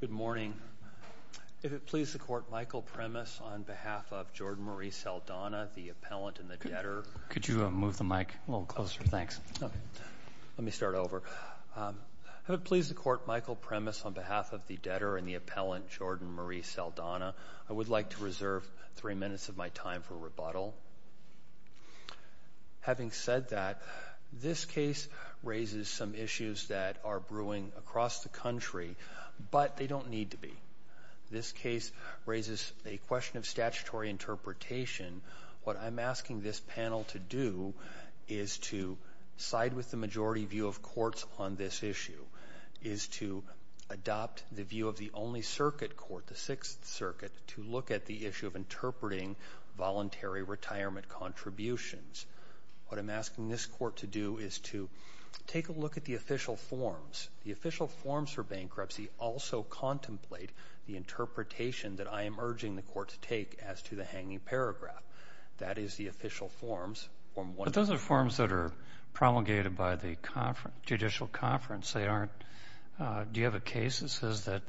Good morning. If it pleases the Court, Michael Premis, on behalf of Jordan Marie Saldana, the appellant and the debtor, I would like to reserve three minutes of my time for rebuttal. Having said that, this case raises some issues that are brewing across the country, but they don't need to be. This case raises a question of statutory interpretation. What I'm asking this panel to do is to side with the majority view of courts on this issue, is to adopt the view of the only circuit court, the Sixth Circuit, to look at the issue of interpreting voluntary retirement contributions. What I'm asking this court to do is to take a look at the official forms. The official forms for bankruptcy also contemplate the interpretation that I am urging the court to take as to the hanging paragraph. That is the official forms, Form 1. But those are forms that are promulgated by the judicial conference. Do you have a case that says that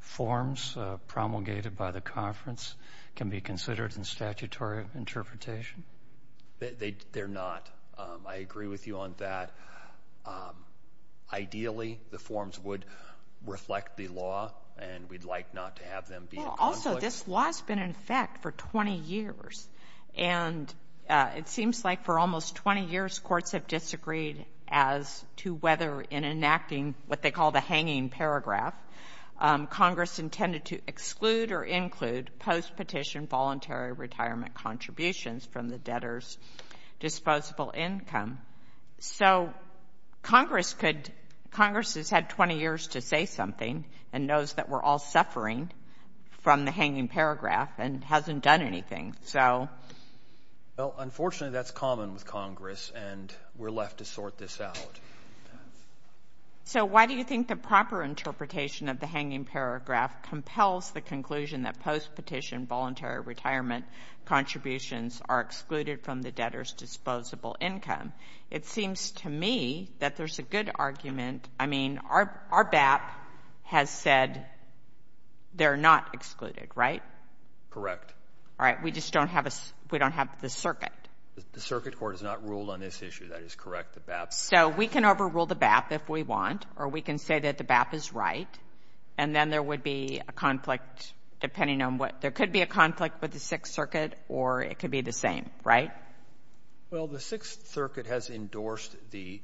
forms promulgated by the conference can be considered in statutory interpretation? They're not. I agree with you on that. Ideally, the forms would reflect the law, and we'd like not to have them be in conflict. Also, this law has been in effect for 20 years, and it seems like for almost 20 years courts have disagreed as to whether in enacting what they call the hanging paragraph, Congress intended to exclude or include post-petition voluntary retirement contributions from the debtor's disposable income. So Congress could — Congress has had 20 years to say something and knows that we're all suffering from the hanging paragraph and hasn't done anything. So — Well, unfortunately, that's common with Congress, and we're left to sort this out. So why do you think the proper interpretation of the hanging paragraph compels the conclusion that post-petition voluntary retirement contributions are excluded from the debtor's disposable income? It seems to me that there's a good argument. I mean, our BAP has said they're not excluded, right? Correct. All right. We just don't have a — we don't have the circuit. The circuit court has not ruled on this issue. That is correct. The BAP — So we can overrule the BAP if we want, or we can say that the BAP is right, and then there would be a conflict depending on what — there could be a conflict with the Sixth Circuit, or it could be the same, right? Well, the Sixth Circuit has endorsed the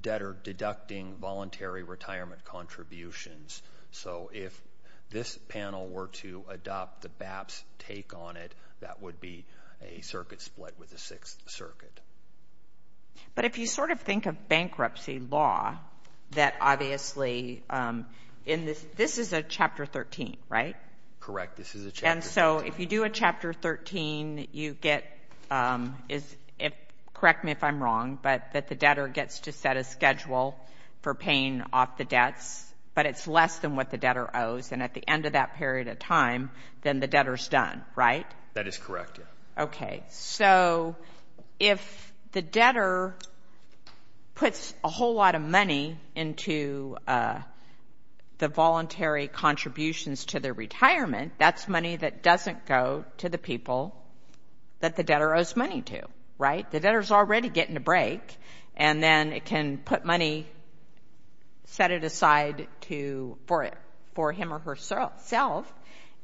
debtor deducting voluntary retirement contributions. So if this panel were to adopt the BAP's take on it, that would be a circuit split with the Sixth Circuit. But if you sort of think of bankruptcy law, that obviously in this — this is a Chapter 13, right? Correct. This is a Chapter 13. And so if you do a Chapter 13, you get — correct me if I'm wrong, but that the debtor gets to set a schedule for paying off the debts, but it's less than what the debtor owes, and at the end of that period of time, then the debtor's done, right? That is correct, yeah. Okay, so if the debtor puts a whole lot of money into the voluntary contributions to their retirement, that's money that doesn't go to the people that the debtor owes money to, right? The debtor's already getting a break, and then it can put money — set it aside to for him or herself,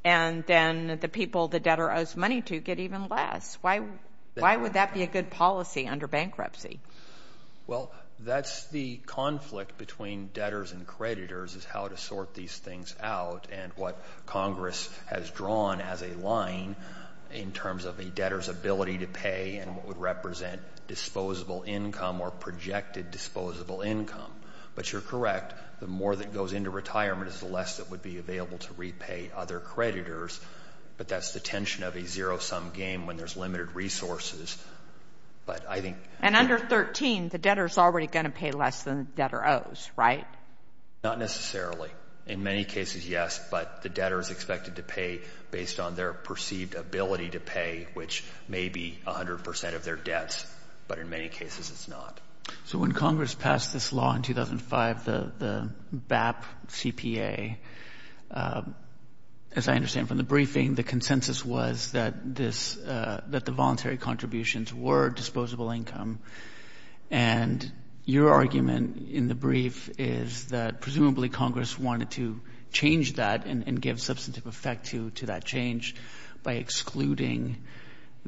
and then the people the debtor owes money to get even less. Why would that be a good policy under bankruptcy? Well, that's the conflict between debtors and creditors, is how to sort these things out and what Congress has drawn as a line in terms of a debtor's ability to pay and what would represent disposable income or projected disposable income. But you're correct, the more that goes into retirement is the less that would be available to repay other creditors, but that's the tension of a zero-sum game when there's limited resources. But I think — And under 13, the debtor's already going to pay less than the debtor owes, right? Not necessarily. In many cases, yes, but the debtor's expected to pay based on their perceived ability to pay, which may be 100 percent of their debts, but in many cases it's not. So when Congress passed this law in 2005, the BAP CPA, as I understand from the briefing, the consensus was that this — that the voluntary contributions were disposable income, and your argument in the brief is that presumably Congress wanted to change that and give substantive effect to that change by excluding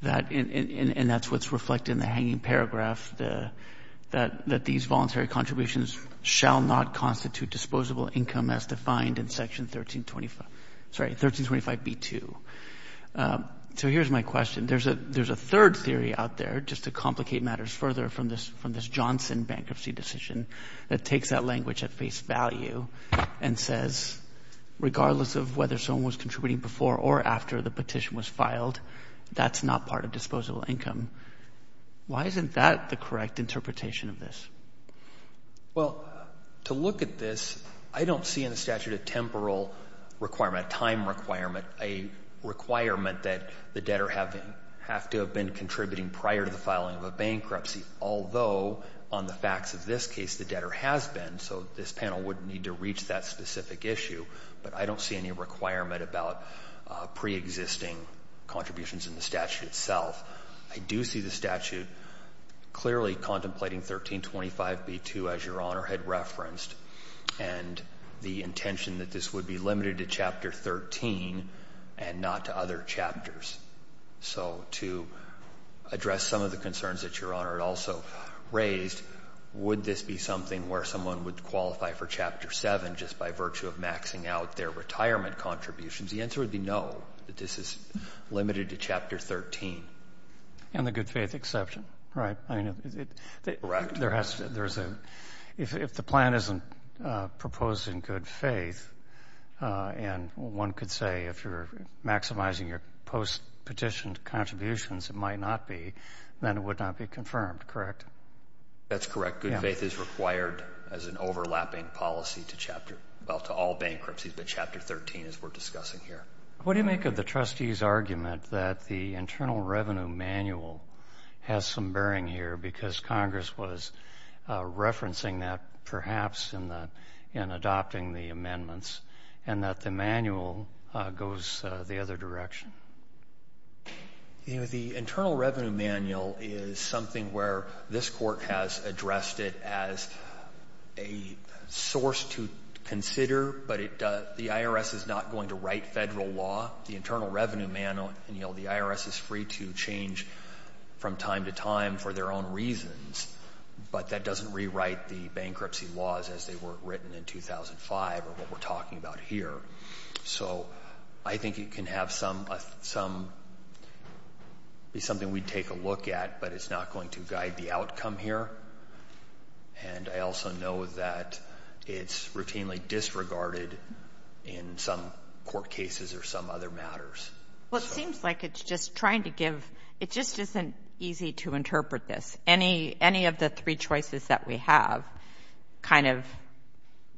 that, and that's what's reflected in the hanging paragraph, that these voluntary contributions shall not constitute disposable income as defined in Section 1325 — sorry, 1325b2. So here's my question. There's a third theory out there, just to complicate matters further from this Johnson bankruptcy decision, that takes that language at face value and says, regardless of whether someone was contributing before or after the petition was filed, that's not part of disposable income. Why isn't that the correct interpretation of this? Well, to look at this, I don't see in the statute a temporal requirement, a time requirement, a requirement that the debtor have to have been contributing prior to the filing of a bankruptcy, although on the facts of this case, the debtor has been, so this panel wouldn't need to reach that specific issue, but I don't see any requirement about preexisting contributions in the statute itself. I do see the statute clearly contemplating 1325b2, as Your Honor had referenced, and the intention that this would be limited to Chapter 13 and not to other chapters. So to address some of the concerns that Your Honor had also raised, would this be something where someone would qualify for Chapter 7 just by virtue of maxing out their retirement contributions? The answer would be no, that this is limited to Chapter 13. And the good faith exception, right? Correct. I mean, there has to, there's a, if the plan isn't proposing good faith, and one could say if you're maximizing your post-petition contributions, it might not be, then it would not be confirmed, correct? That's correct. Good faith is required as an overlapping policy to Chapter, well, to all bankruptcies, but that's not what we're discussing here. What do you make of the trustee's argument that the Internal Revenue Manual has some bearing here because Congress was referencing that perhaps in the, in adopting the amendments, and that the manual goes the other direction? You know, the Internal Revenue Manual is something where this court has addressed it as a source to consider, but it, the IRS is not going to write federal law. The Internal Revenue Manual, the IRS is free to change from time to time for their own reasons, but that doesn't rewrite the bankruptcy laws as they were written in 2005 or what we're talking about here. So I think it can have some, be something we'd take a look at, but it's not going to guide the outcome here. And I also know that it's routinely disregarded in some court cases or some other matters. Well, it seems like it's just trying to give, it just isn't easy to interpret this. Any, any of the three choices that we have kind of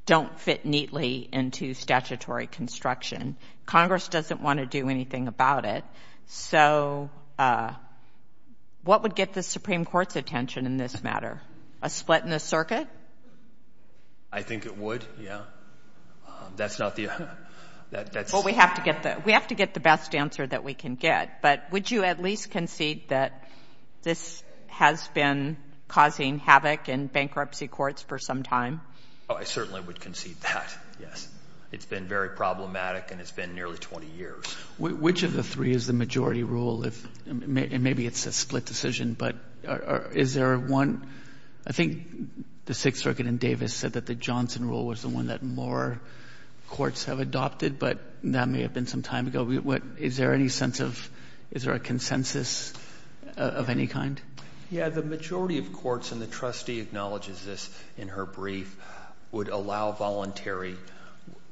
don't fit neatly into statutory construction. Congress doesn't want to do anything about it. So what would get the Supreme Court's attention in this matter? A split in the circuit? I think it would, yeah. That's not the, that's... Well, we have to get the, we have to get the best answer that we can get. But would you at least concede that this has been causing havoc in bankruptcy courts for some time? Oh, I certainly would concede that, yes. It's been very problematic and it's been nearly 20 years. Which of the three is the majority rule? Maybe it's a split decision, but is there one? I think the Sixth Circuit in Davis said that the Johnson rule was the one that more courts have adopted, but that may have been some time ago. Is there any sense of, is there a consensus of any kind? Yeah. The majority of courts, and the trustee acknowledges this in her brief, would allow voluntary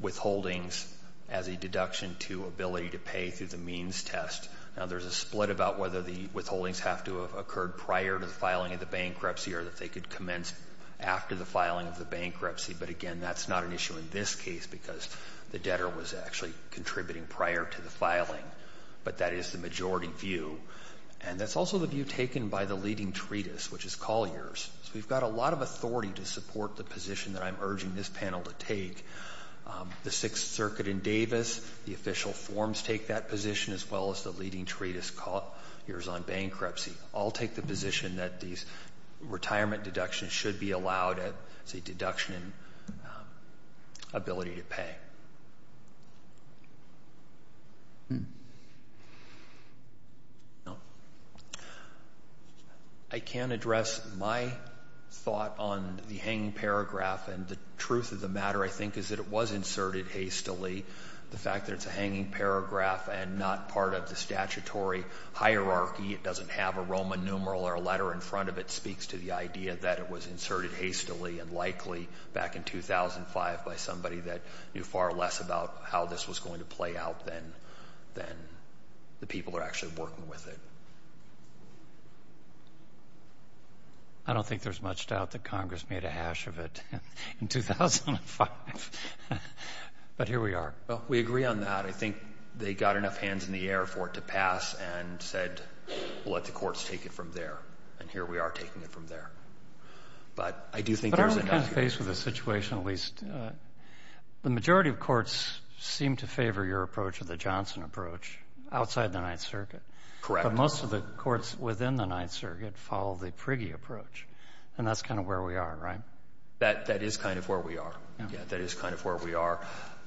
withholdings as a deduction to ability to pay through the means test. Now, there's a split about whether the withholdings have to have occurred prior to the filing of the bankruptcy or that they could commence after the filing of the bankruptcy. But again, that's not an issue in this case because the debtor was actually contributing prior to the filing. But that is the majority view. And that's also the view taken by the leading treatise, which is Collier's. So we've got a lot of authority to support the position that I'm urging this panel to take. The Sixth Circuit in Davis, the official forms take that position, as well as the leading treatise, Collier's on bankruptcy, all take the position that these retirement deductions should be allowed as a deduction in ability to pay. I can't address my thought on the hanging paragraph. And the truth of the matter, I think, is that it was inserted hastily. The fact that it's a hanging paragraph and not part of the statutory hierarchy, it doesn't have a Roman numeral or a letter in front of it, speaks to the idea that it was inserted hastily and likely back in 2005 by somebody that knew far less about how this was going to play out than the people who were actually working with it. I don't think there's much doubt that Congress made a hash of it in 2005. But here we are. Well, we agree on that. I think they got enough hands in the air for it to pass and said, let the courts take it from there. And here we are taking it from there. But I do think there's enough here. But aren't we kind of faced with a situation, at least, the majority of courts seem to favor your approach or the Johnson approach outside the Ninth Circuit. Correct. But most of the courts within the Ninth Circuit follow the Prigge approach. And that's kind of where we are, right? That is kind of where we are. Yeah. That is kind of where we are.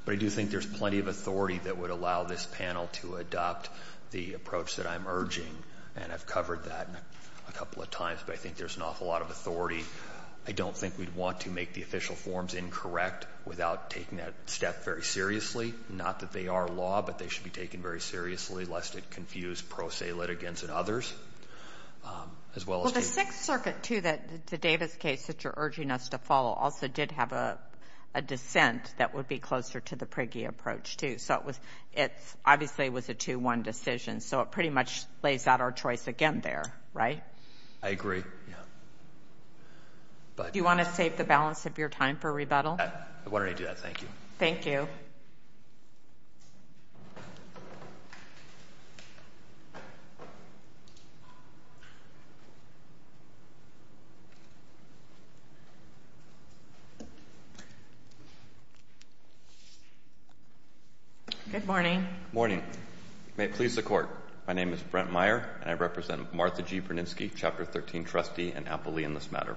But I do think there's plenty of authority that would allow this panel to adopt the approach that I'm urging. And I've covered that a couple of times, but I think there's an awful lot of authority. I don't think we'd want to make the official forms incorrect without taking that step very seriously. Not that they are law, but they should be taken very seriously, lest it confuse pro se litigants and others. As well as the — Well, the Sixth Circuit, too, the Davis case that you're urging us to follow, also did have a dissent that would be closer to the Prigge approach, too. So it was — it obviously was a 2-1 decision. So it pretty much lays out our choice again there, right? I agree. Yeah. But — Do you want to save the balance of your time for rebuttal? Why don't I do that? Thank you. Thank you. Good morning. Good morning. May it please the Court. My name is Brent Meyer, and I represent Martha G. Berninsky, Chapter 13 trustee and appellee in this matter.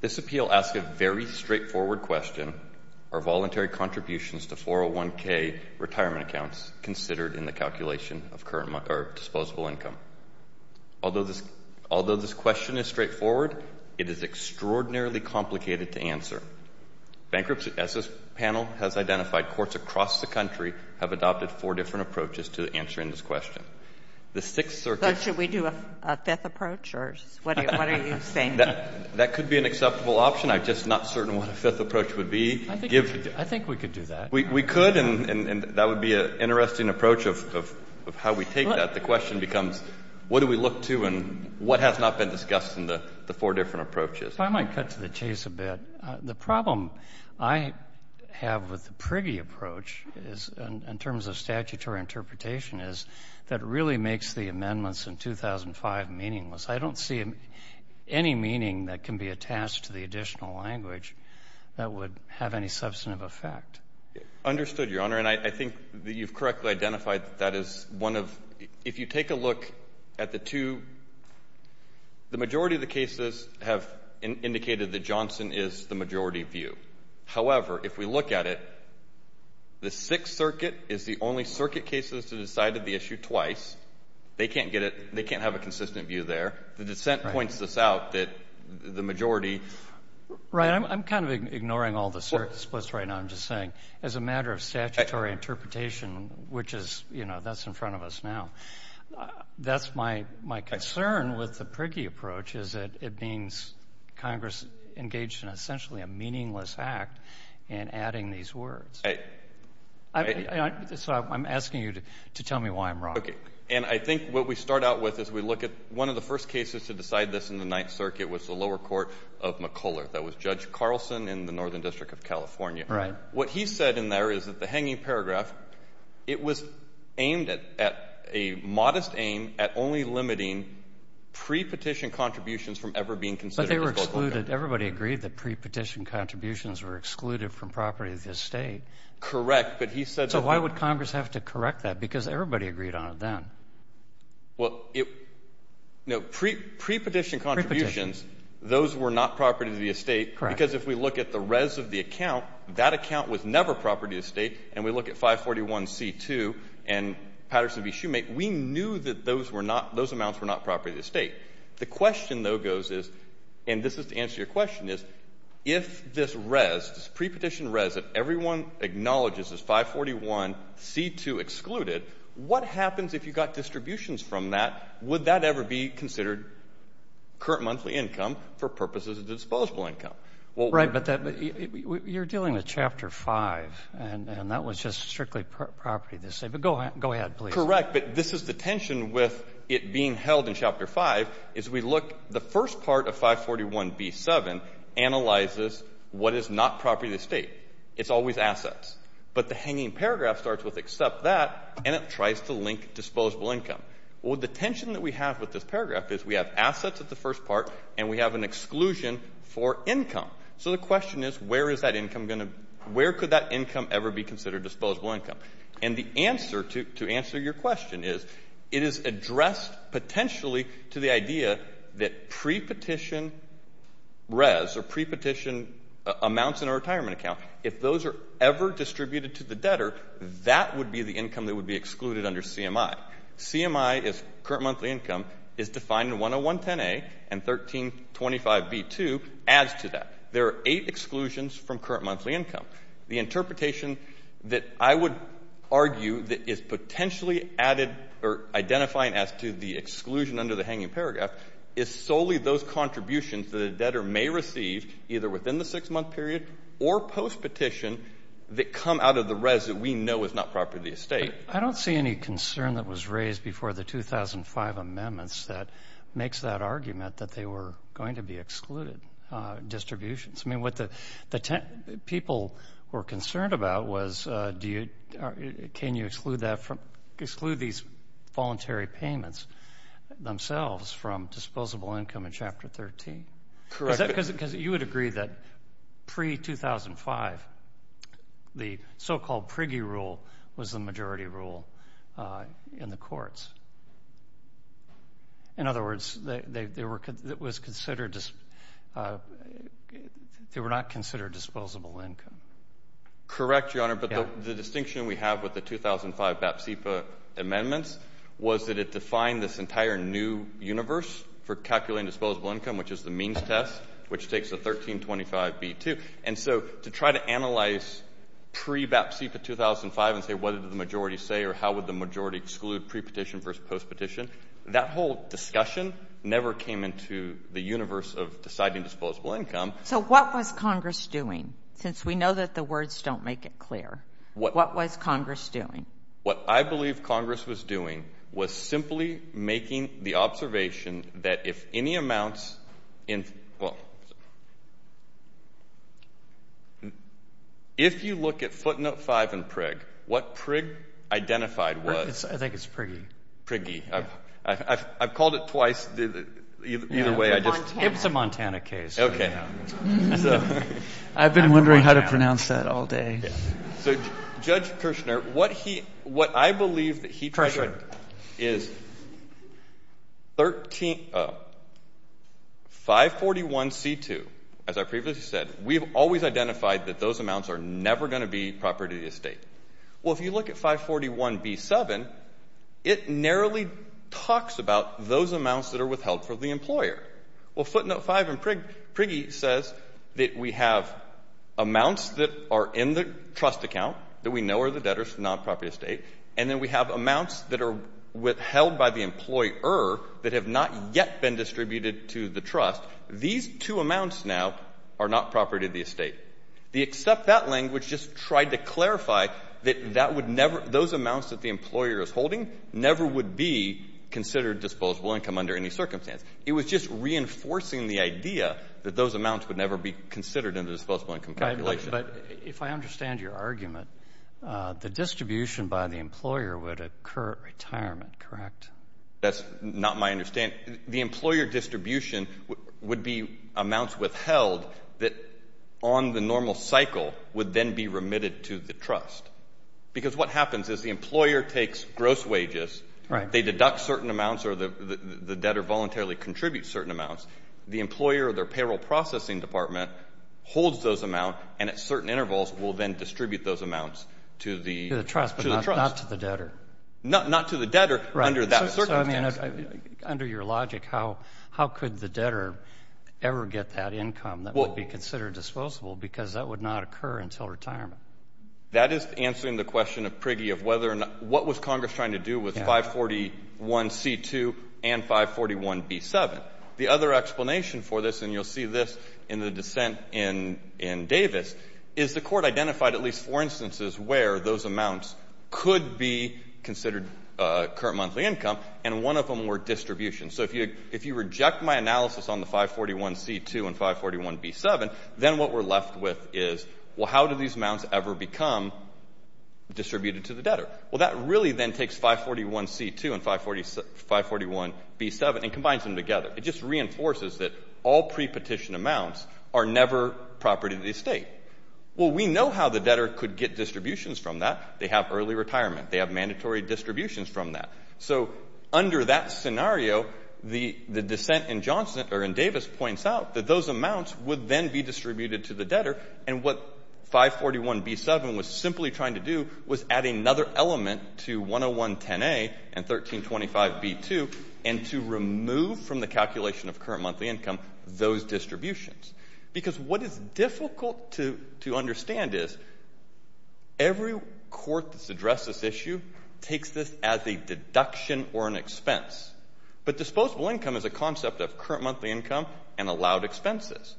This appeal asks a very straightforward question. Are voluntary contributions to 401K retirement accounts considered in the calculation of current — or disposable income? Although this — although this question is straightforward, it is extraordinarily complicated to answer. Bankruptcy, as this panel has identified, courts across the country have adopted four different approaches to answering this question. The Sixth Circuit — So should we do a fifth approach, or what are you saying? That could be an acceptable option. I'm just not certain what a fifth approach would be. I think we could do that. We could, and that would be an interesting approach of how we take that. The question becomes, what do we look to and what has not been discussed in the four different approaches? If I might cut to the chase a bit, the problem I have with the Prigge approach is, in terms of statutory interpretation, is that it really makes the amendments in 2005 meaningless. I don't see any meaning that can be attached to the additional language that would have any substantive effect. Understood, Your Honor. And I think that you've correctly identified that that is one of — if you take a look at the two — the majority of the cases have indicated that Johnson is the majority view. However, if we look at it, the Sixth Circuit is the only circuit case that has decided the issue twice. They can't get it — they can't have a consistent view there. The dissent points this out, that the majority — Right. I'm kind of ignoring all the surplus right now. I'm just saying, as a matter of statutory interpretation, which is — you know, that's in front of us now. That's my concern with the Prigge approach, is that it means Congress engaged in essentially a meaningless act in adding these words. Right. So I'm asking you to tell me why I'm wrong. Okay. And I think what we start out with, as we look at one of the first cases to decide this in the Ninth Circuit, was the lower court of McCulloch. That was Judge Carlson in the Northern District of California. Right. What he said in there is that the hanging paragraph, it was aimed at — a modest aim at only limiting pre-petition contributions from ever being considered as local government. But they were excluded. But he said everybody agreed that pre-petition contributions were excluded from property of the estate. Correct. But he said — So why would Congress have to correct that? Because everybody agreed on it then. Well, pre-petition contributions, those were not property of the estate. Correct. Because if we look at the res of the account, that account was never property of the state. And we look at 541C2 and Patterson v. Shoemake, we knew that those amounts were not property of the estate. The question, though, goes as — and this is to answer your question, is if this res, this pre-petition res that everyone acknowledges as 541C2 excluded, what happens if you got distributions from that? Would that ever be considered current monthly income for purposes of disposable income? Well — Right. But that — you're dealing with Chapter 5, and that was just strictly property of the estate. But go ahead, please. Correct. Right. But this is the tension with it being held in Chapter 5, is we look — the first part of 541B7 analyzes what is not property of the estate. It's always assets. But the hanging paragraph starts with, except that, and it tries to link disposable income. Well, the tension that we have with this paragraph is we have assets at the first part, and we have an exclusion for income. So the question is, where is that income going to — where could that income ever be considered disposable income? And the answer to — to answer your question is, it is addressed potentially to the idea that pre-petition res or pre-petition amounts in a retirement account, if those are ever distributed to the debtor, that would be the income that would be excluded under CMI. CMI is current monthly income, is defined in 10110A, and 1325B2 adds to that. There are eight exclusions from current monthly income. The interpretation that I would argue that is potentially added or identifying as to the exclusion under the hanging paragraph is solely those contributions that a debtor may receive, either within the six-month period or post-petition, that come out of the res that we know is not property of the estate. I don't see any concern that was raised before the 2005 amendments that makes that argument that they were going to be excluded distributions. I mean, what the people were concerned about was, do you — can you exclude that from — exclude these voluntary payments themselves from disposable income in Chapter 13? Correct. Because you would agree that pre-2005, the so-called Prigge rule was the majority rule in the courts. In other words, they were — it was considered — they were not considered disposable income. Correct, Your Honor, but the distinction we have with the 2005 BAPSIPA amendments was that it defined this entire new universe for calculating disposable income, which is the means test, which takes the 1325B2. And so to try to analyze pre-BAPSIPA 2005 and say, what did the majority say or how would the majority exclude pre-petition versus post-petition, that whole discussion never came into the universe of deciding disposable income. So what was Congress doing, since we know that the words don't make it clear? What was Congress doing? What I believe Congress was doing was simply making the observation that if any amounts in — well, if you look at footnote 5 in Prigg, what Prigg identified was — I think it's Prigge. — Prigge. I've called it twice. Either way, I just — It's a Montana case. Okay. I've been wondering how to pronounce that all day. So, Judge Kirshner, what he — what I believe that he treasured is 541C2. As I previously said, we've always identified that those amounts are never going to be property of the estate. Well, if you look at 541B7, it narrowly talks about those amounts that are withheld from the employer. Well, footnote 5 in Prigg — Prigge says that we have amounts that are in the trust account that we know are the debtors, not property of the estate, and then we have amounts that are withheld by the employer that have not yet been distributed to the trust. These two amounts now are not property of the estate. The except that language just tried to clarify that that would never — those amounts that the employer is holding never would be considered disposable income under any circumstance. It was just reinforcing the idea that those amounts would never be considered in the disposable income calculation. But if I understand your argument, the distribution by the employer would occur at retirement, correct? That's not my understanding. The employer distribution would be amounts withheld that on the normal cycle would then be remitted to the trust. Because what happens is the employer takes gross wages — Right. — they deduct certain amounts or the debtor voluntarily contributes certain amounts. The employer or their payroll processing department holds those amounts and at certain intervals will then distribute those amounts to the — To the trust, but not to the debtor. Not to the debtor under that circumstance. Right. So, I mean, under your logic, how could the debtor ever get that income that would be considered disposable because that would not occur until retirement? That is answering the question of Prigge of whether or not — what was Congress trying to do with 541c2 and 541b7. The other explanation for this, and you'll see this in the dissent in Davis, is the court identified at least four instances where those amounts could be considered current monthly income and one of them were distribution. So if you reject my analysis on the 541c2 and 541b7, then what we're left with is, well, how do these amounts ever become distributed to the debtor? Well, that really then takes 541c2 and 541b7 and combines them together. It just reinforces that all pre-petition amounts are never property of the estate. Well, we know how the debtor could get distributions from that. They have early retirement. They have mandatory distributions from that. So under that scenario, the — the dissent in Johnson — or in Davis points out that those amounts would then be distributed to the debtor, and what 541b7 was simply trying to do was add another element to 10110a and 1325b2 and to remove from the calculation of current monthly income those distributions. Because what is difficult to — to understand is every court that's addressed this issue takes this as a deduction or an expense. But disposable income is a concept of current monthly income and allowed expenses.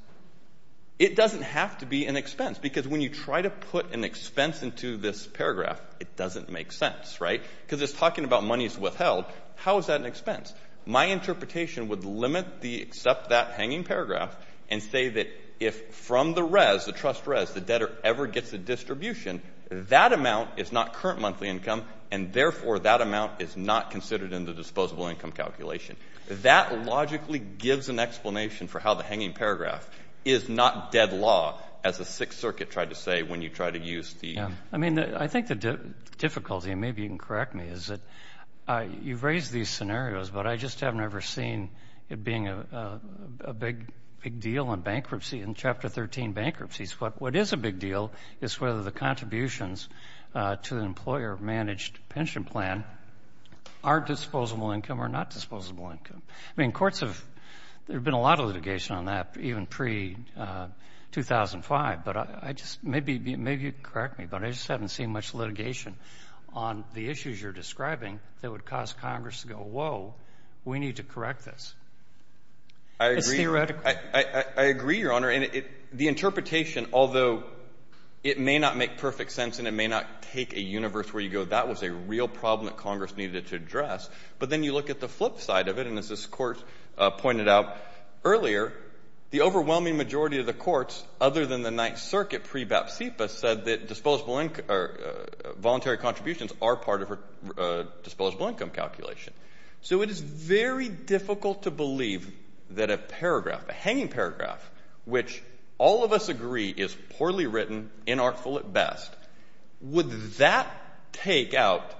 It doesn't have to be an expense, because when you try to put an expense into this paragraph, it doesn't make sense, right? Because it's talking about monies withheld. How is that an expense? My interpretation would limit the — accept that hanging paragraph and say that if from the res, the trust res, the debtor ever gets a distribution, that amount is not current monthly income, and therefore that amount is not considered in the disposable income calculation. That logically gives an explanation for how the hanging paragraph is not dead law, as the Sixth Circuit tried to say when you try to use the — Yeah. I mean, I think the difficulty — and maybe you can correct me — is that you've raised these scenarios, but I just haven't ever seen it being a big deal in bankruptcy, in Chapter 13 bankruptcies. What is a big deal is whether the contributions to the employer-managed pension plan are disposable income. I mean, courts have — there have been a lot of litigation on that, even pre-2005, but I just — maybe you can correct me, but I just haven't seen much litigation on the issues you're describing that would cause Congress to go, whoa, we need to correct this. I agree. It's theoretical. I agree, Your Honor. And the interpretation, although it may not make perfect sense and it may not take a universe where you go, that was a real problem that Congress needed to address, but then you look at the flip side of it, and as this Court pointed out earlier, the overwhelming majority of the courts, other than the Ninth Circuit pre-Bapst Zipa, said that disposable — or voluntary contributions are part of a disposable income calculation. So it is very difficult to believe that a paragraph, a hanging paragraph, which all of us agree is poorly written, inartful at best, would that take out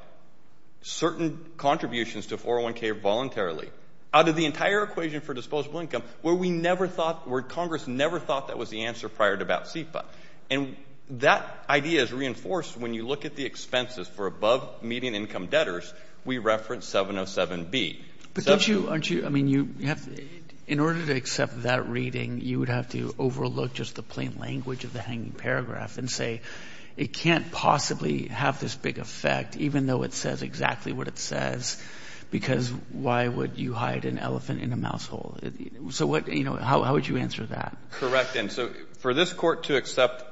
certain contributions to 401K voluntarily, out of the entire equation for disposable income, where we never thought — where Congress never thought that was the answer prior to Bapst Zipa. And that idea is reinforced when you look at the expenses for above-median income debtors. We reference 707B. But don't you — aren't you — I mean, you have — in order to accept that reading, you would have to overlook just the plain language of the hanging paragraph and say it can't possibly have this big effect, even though it says exactly what it says, because why would you hide an elephant in a mouse hole? So what — you know, how would you answer that? Correct. And so for this Court to accept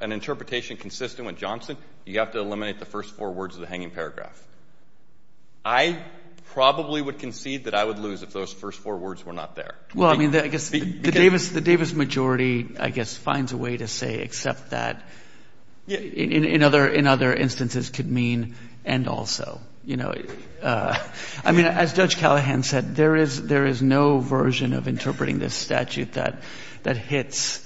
an interpretation consistent with Johnson, you have to eliminate the first four words of the hanging paragraph. I probably would concede that I would lose if those first four words were not there. Well, I mean, I guess the Davis — the Davis majority, I guess, finds a way to say accept that in other — in other instances could mean and also. You know, I mean, as Judge Callahan said, there is — there is no version of interpreting this statute that — that hits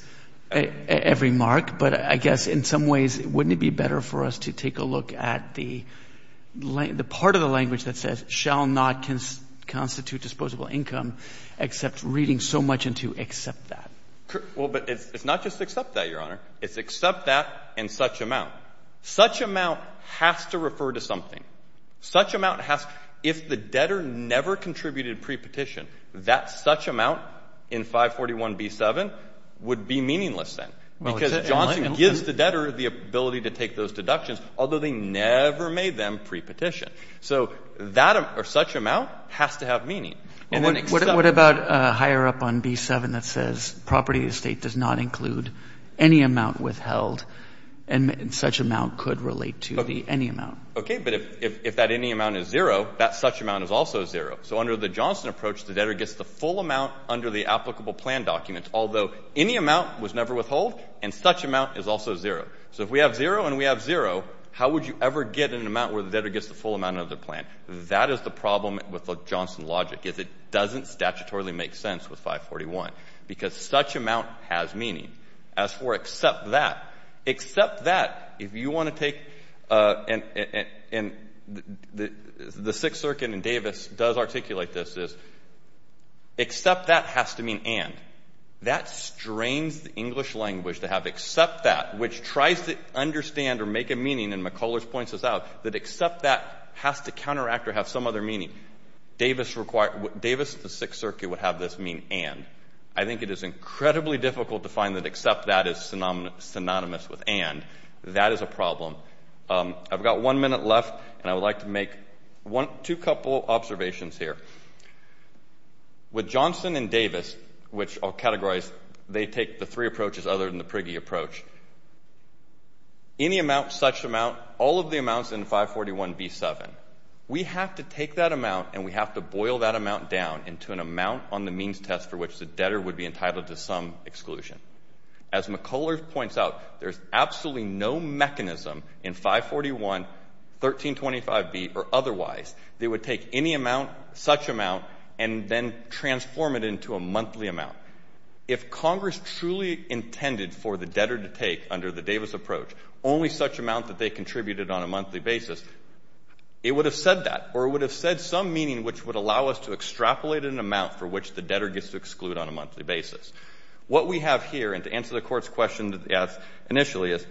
every mark. But I guess in some ways, wouldn't it be better for us to take a look at the part of the language that says shall not constitute disposable income, except reading so much into accept that? Well, but it's not just accept that, Your Honor. It's accept that in such amount. Such amount has to refer to something. Such amount has — if the debtor never contributed prepetition, that such amount in 541b7 would be meaningless then, because Johnson gives the debtor the ability to take those deductions, although they never made them prepetition. So that — or such amount has to have meaning. And then except — Well, what about higher up on b7 that says property of the state does not include any amount withheld, and such amount could relate to the any amount? Okay. But if that any amount is zero, that such amount is also zero. So under the Johnson approach, the debtor gets the full amount under the applicable plan document, although any amount was never withheld, and such amount is also zero. So if we have zero and we have zero, how would you ever get an amount where the debtor gets the full amount under the plan? That is the problem with the Johnson logic, is it doesn't statutorily make sense with 541, because such amount has meaning. As for except that, except that, if you want to take — and the Sixth Circuit in Davis does articulate this, is except that has to mean and. That strains the English language to have except that, which tries to understand or make a meaning, and McCullers points this out, that except that has to counteract or have some other meaning. Davis required — Davis, the Sixth Circuit would have this mean and. I think it is incredibly difficult to find that except that is synonymous with and. That is a problem. I've got one minute left, and I would like to make two couple observations here. With Johnson and Davis, which I'll categorize, they take the three approaches other than the Prigge approach. Any amount, such amount, all of the amounts in 541B7, we have to take that amount, and we have to boil that amount down into an amount on the means test for which the debtor would be entitled to some exclusion. As McCullers points out, there's absolutely no mechanism in 541, 1325B, or otherwise that would take any amount, such amount, and then transform it into a monthly amount. If Congress truly intended for the debtor to take, under the Davis approach, only such amount that they contributed on a monthly basis, it would have said that, or it would have said some meaning which would allow us to extrapolate an amount for which the debtor gets to exclude on a monthly basis. What we have here, and to answer the Court's question as initially, is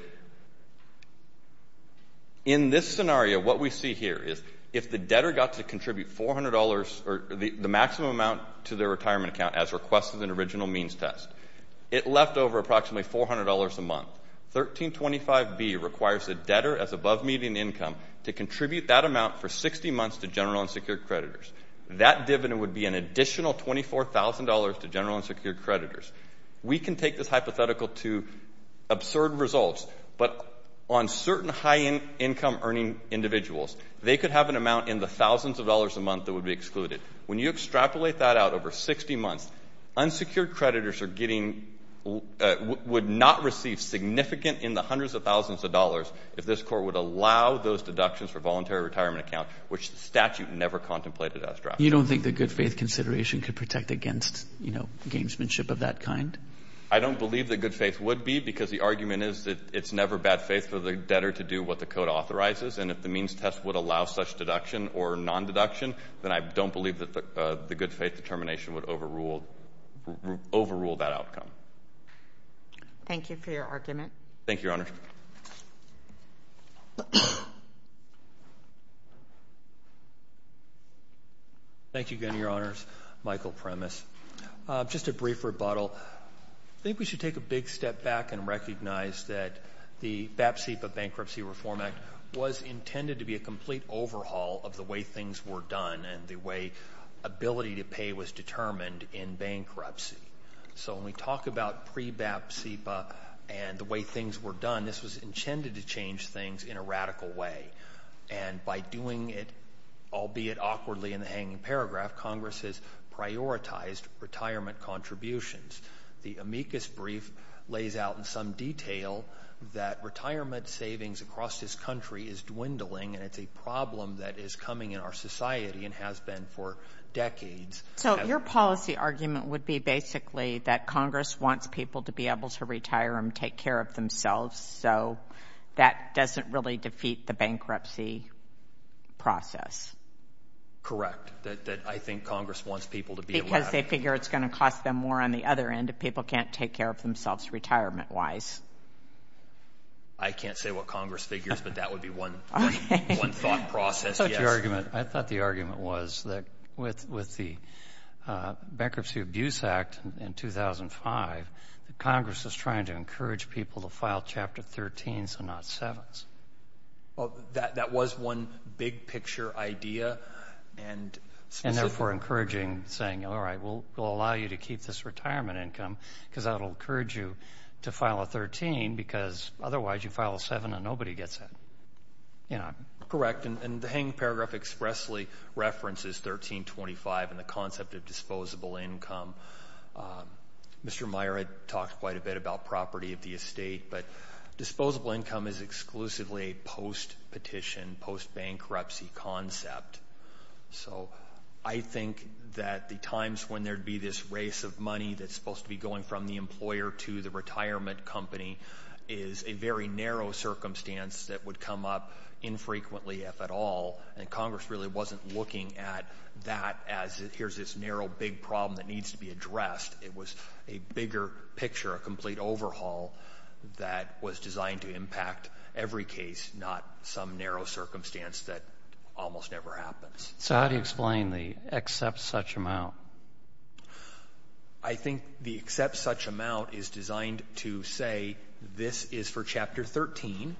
in this scenario, what we see here is if the debtor got to contribute $400 or the maximum amount to their retirement account as requested in the original means test, it left over approximately $400 a month. 1325B requires the debtor, as above median income, to contribute that amount for 60 months to general unsecured creditors. That dividend would be an additional $24,000 to general unsecured creditors. We can take this hypothetical to absurd results, but on certain high income earning individuals, they could have an amount in the thousands of dollars a month that would be excluded. When you extrapolate that out over 60 months, unsecured creditors are getting, would not receive significant in the hundreds of thousands of dollars if this Court would allow those deductions for voluntary retirement account, which the statute never contemplated extrapolation. You don't think that good faith consideration could protect against, you know, gamesmanship of that kind? I don't believe that good faith would be, because the argument is that it's never bad faith for the debtor to do what the Code authorizes, and if the means test would allow such deduction or non-deduction, then I don't believe that the good faith determination would overrule that outcome. Thank you for your argument. Thank you, Your Honor. Thank you again, Your Honors. Michael Premis. Just a brief rebuttal. I think we should take a big step back and recognize that the BAPSIPA Bankruptcy Reform Act was intended to be a complete overhaul of the way things were done and the way ability to pay was determined in bankruptcy. So when we talk about pre-BAPSIPA and the way things were done, this was intended to change things in a radical way, and by doing it, albeit awkwardly in the hanging paragraph, Congress has prioritized retirement contributions. The amicus brief lays out in some detail that retirement savings across this country is dwindling and it's a problem that is coming in our society and has been for decades. So your policy argument would be basically that Congress wants people to be able to retire and take care of themselves, so that doesn't really defeat the bankruptcy process. Correct. That I think Congress wants people to be allowed. I figure it's going to cost them more on the other end if people can't take care of themselves retirement-wise. I can't say what Congress figures, but that would be one thought process. I thought the argument was that with the Bankruptcy Abuse Act in 2005, that Congress was trying to encourage people to file Chapter 13s and not 7s. That was one big-picture idea, and specific. And therefore encouraging, saying, all right, we'll allow you to keep this retirement income because that will encourage you to file a 13 because otherwise you file a 7 and nobody gets that. Correct. And the hanging paragraph expressly references 1325 and the concept of disposable income. Mr. Meyer had talked quite a bit about property of the estate, but disposable income is exclusively a post-petition, post-bankruptcy concept. So I think that the times when there'd be this race of money that's supposed to be going from the employer to the retirement company is a very narrow circumstance that would come up infrequently, if at all. And Congress really wasn't looking at that as, here's this narrow, big problem that needs to be addressed. It was a bigger picture, a complete overhaul that was designed to impact every case, not some narrow circumstance that almost never happens. So how do you explain the accept such amount? I think the accept such amount is designed to say, this is for Chapter 13,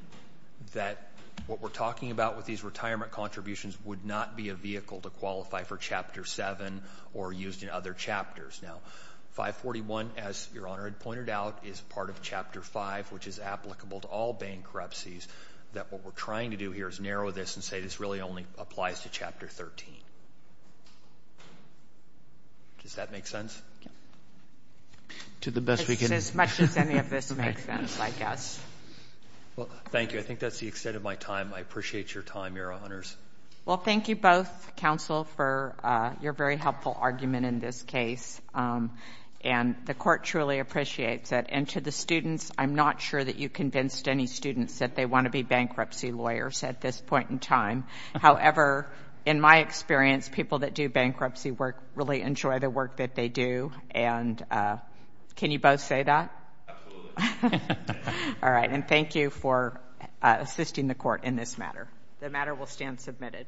that what we're talking about with these retirement contributions would not be a vehicle to qualify for Chapter 7 or used in other chapters. Now, 541, as Your Honor had pointed out, is part of Chapter 5, which is applicable to all bankruptcies, that what we're trying to do here is narrow this and say this really only applies to Chapter 13. Does that make sense? To the best we can. As much as any of this makes sense, I guess. Well, thank you. I think that's the extent of my time. I appreciate your time, Your Honors. Well, thank you both, counsel, for your very helpful argument in this case. And the Court truly appreciates it. And to the students, I'm not sure that you convinced any students that they want to be bankruptcy lawyers at this point in time. However, in my experience, people that do bankruptcy work really enjoy the work that they do. And can you both say that? Absolutely. All right. And thank you for assisting the Court in this matter. The matter will stand submitted.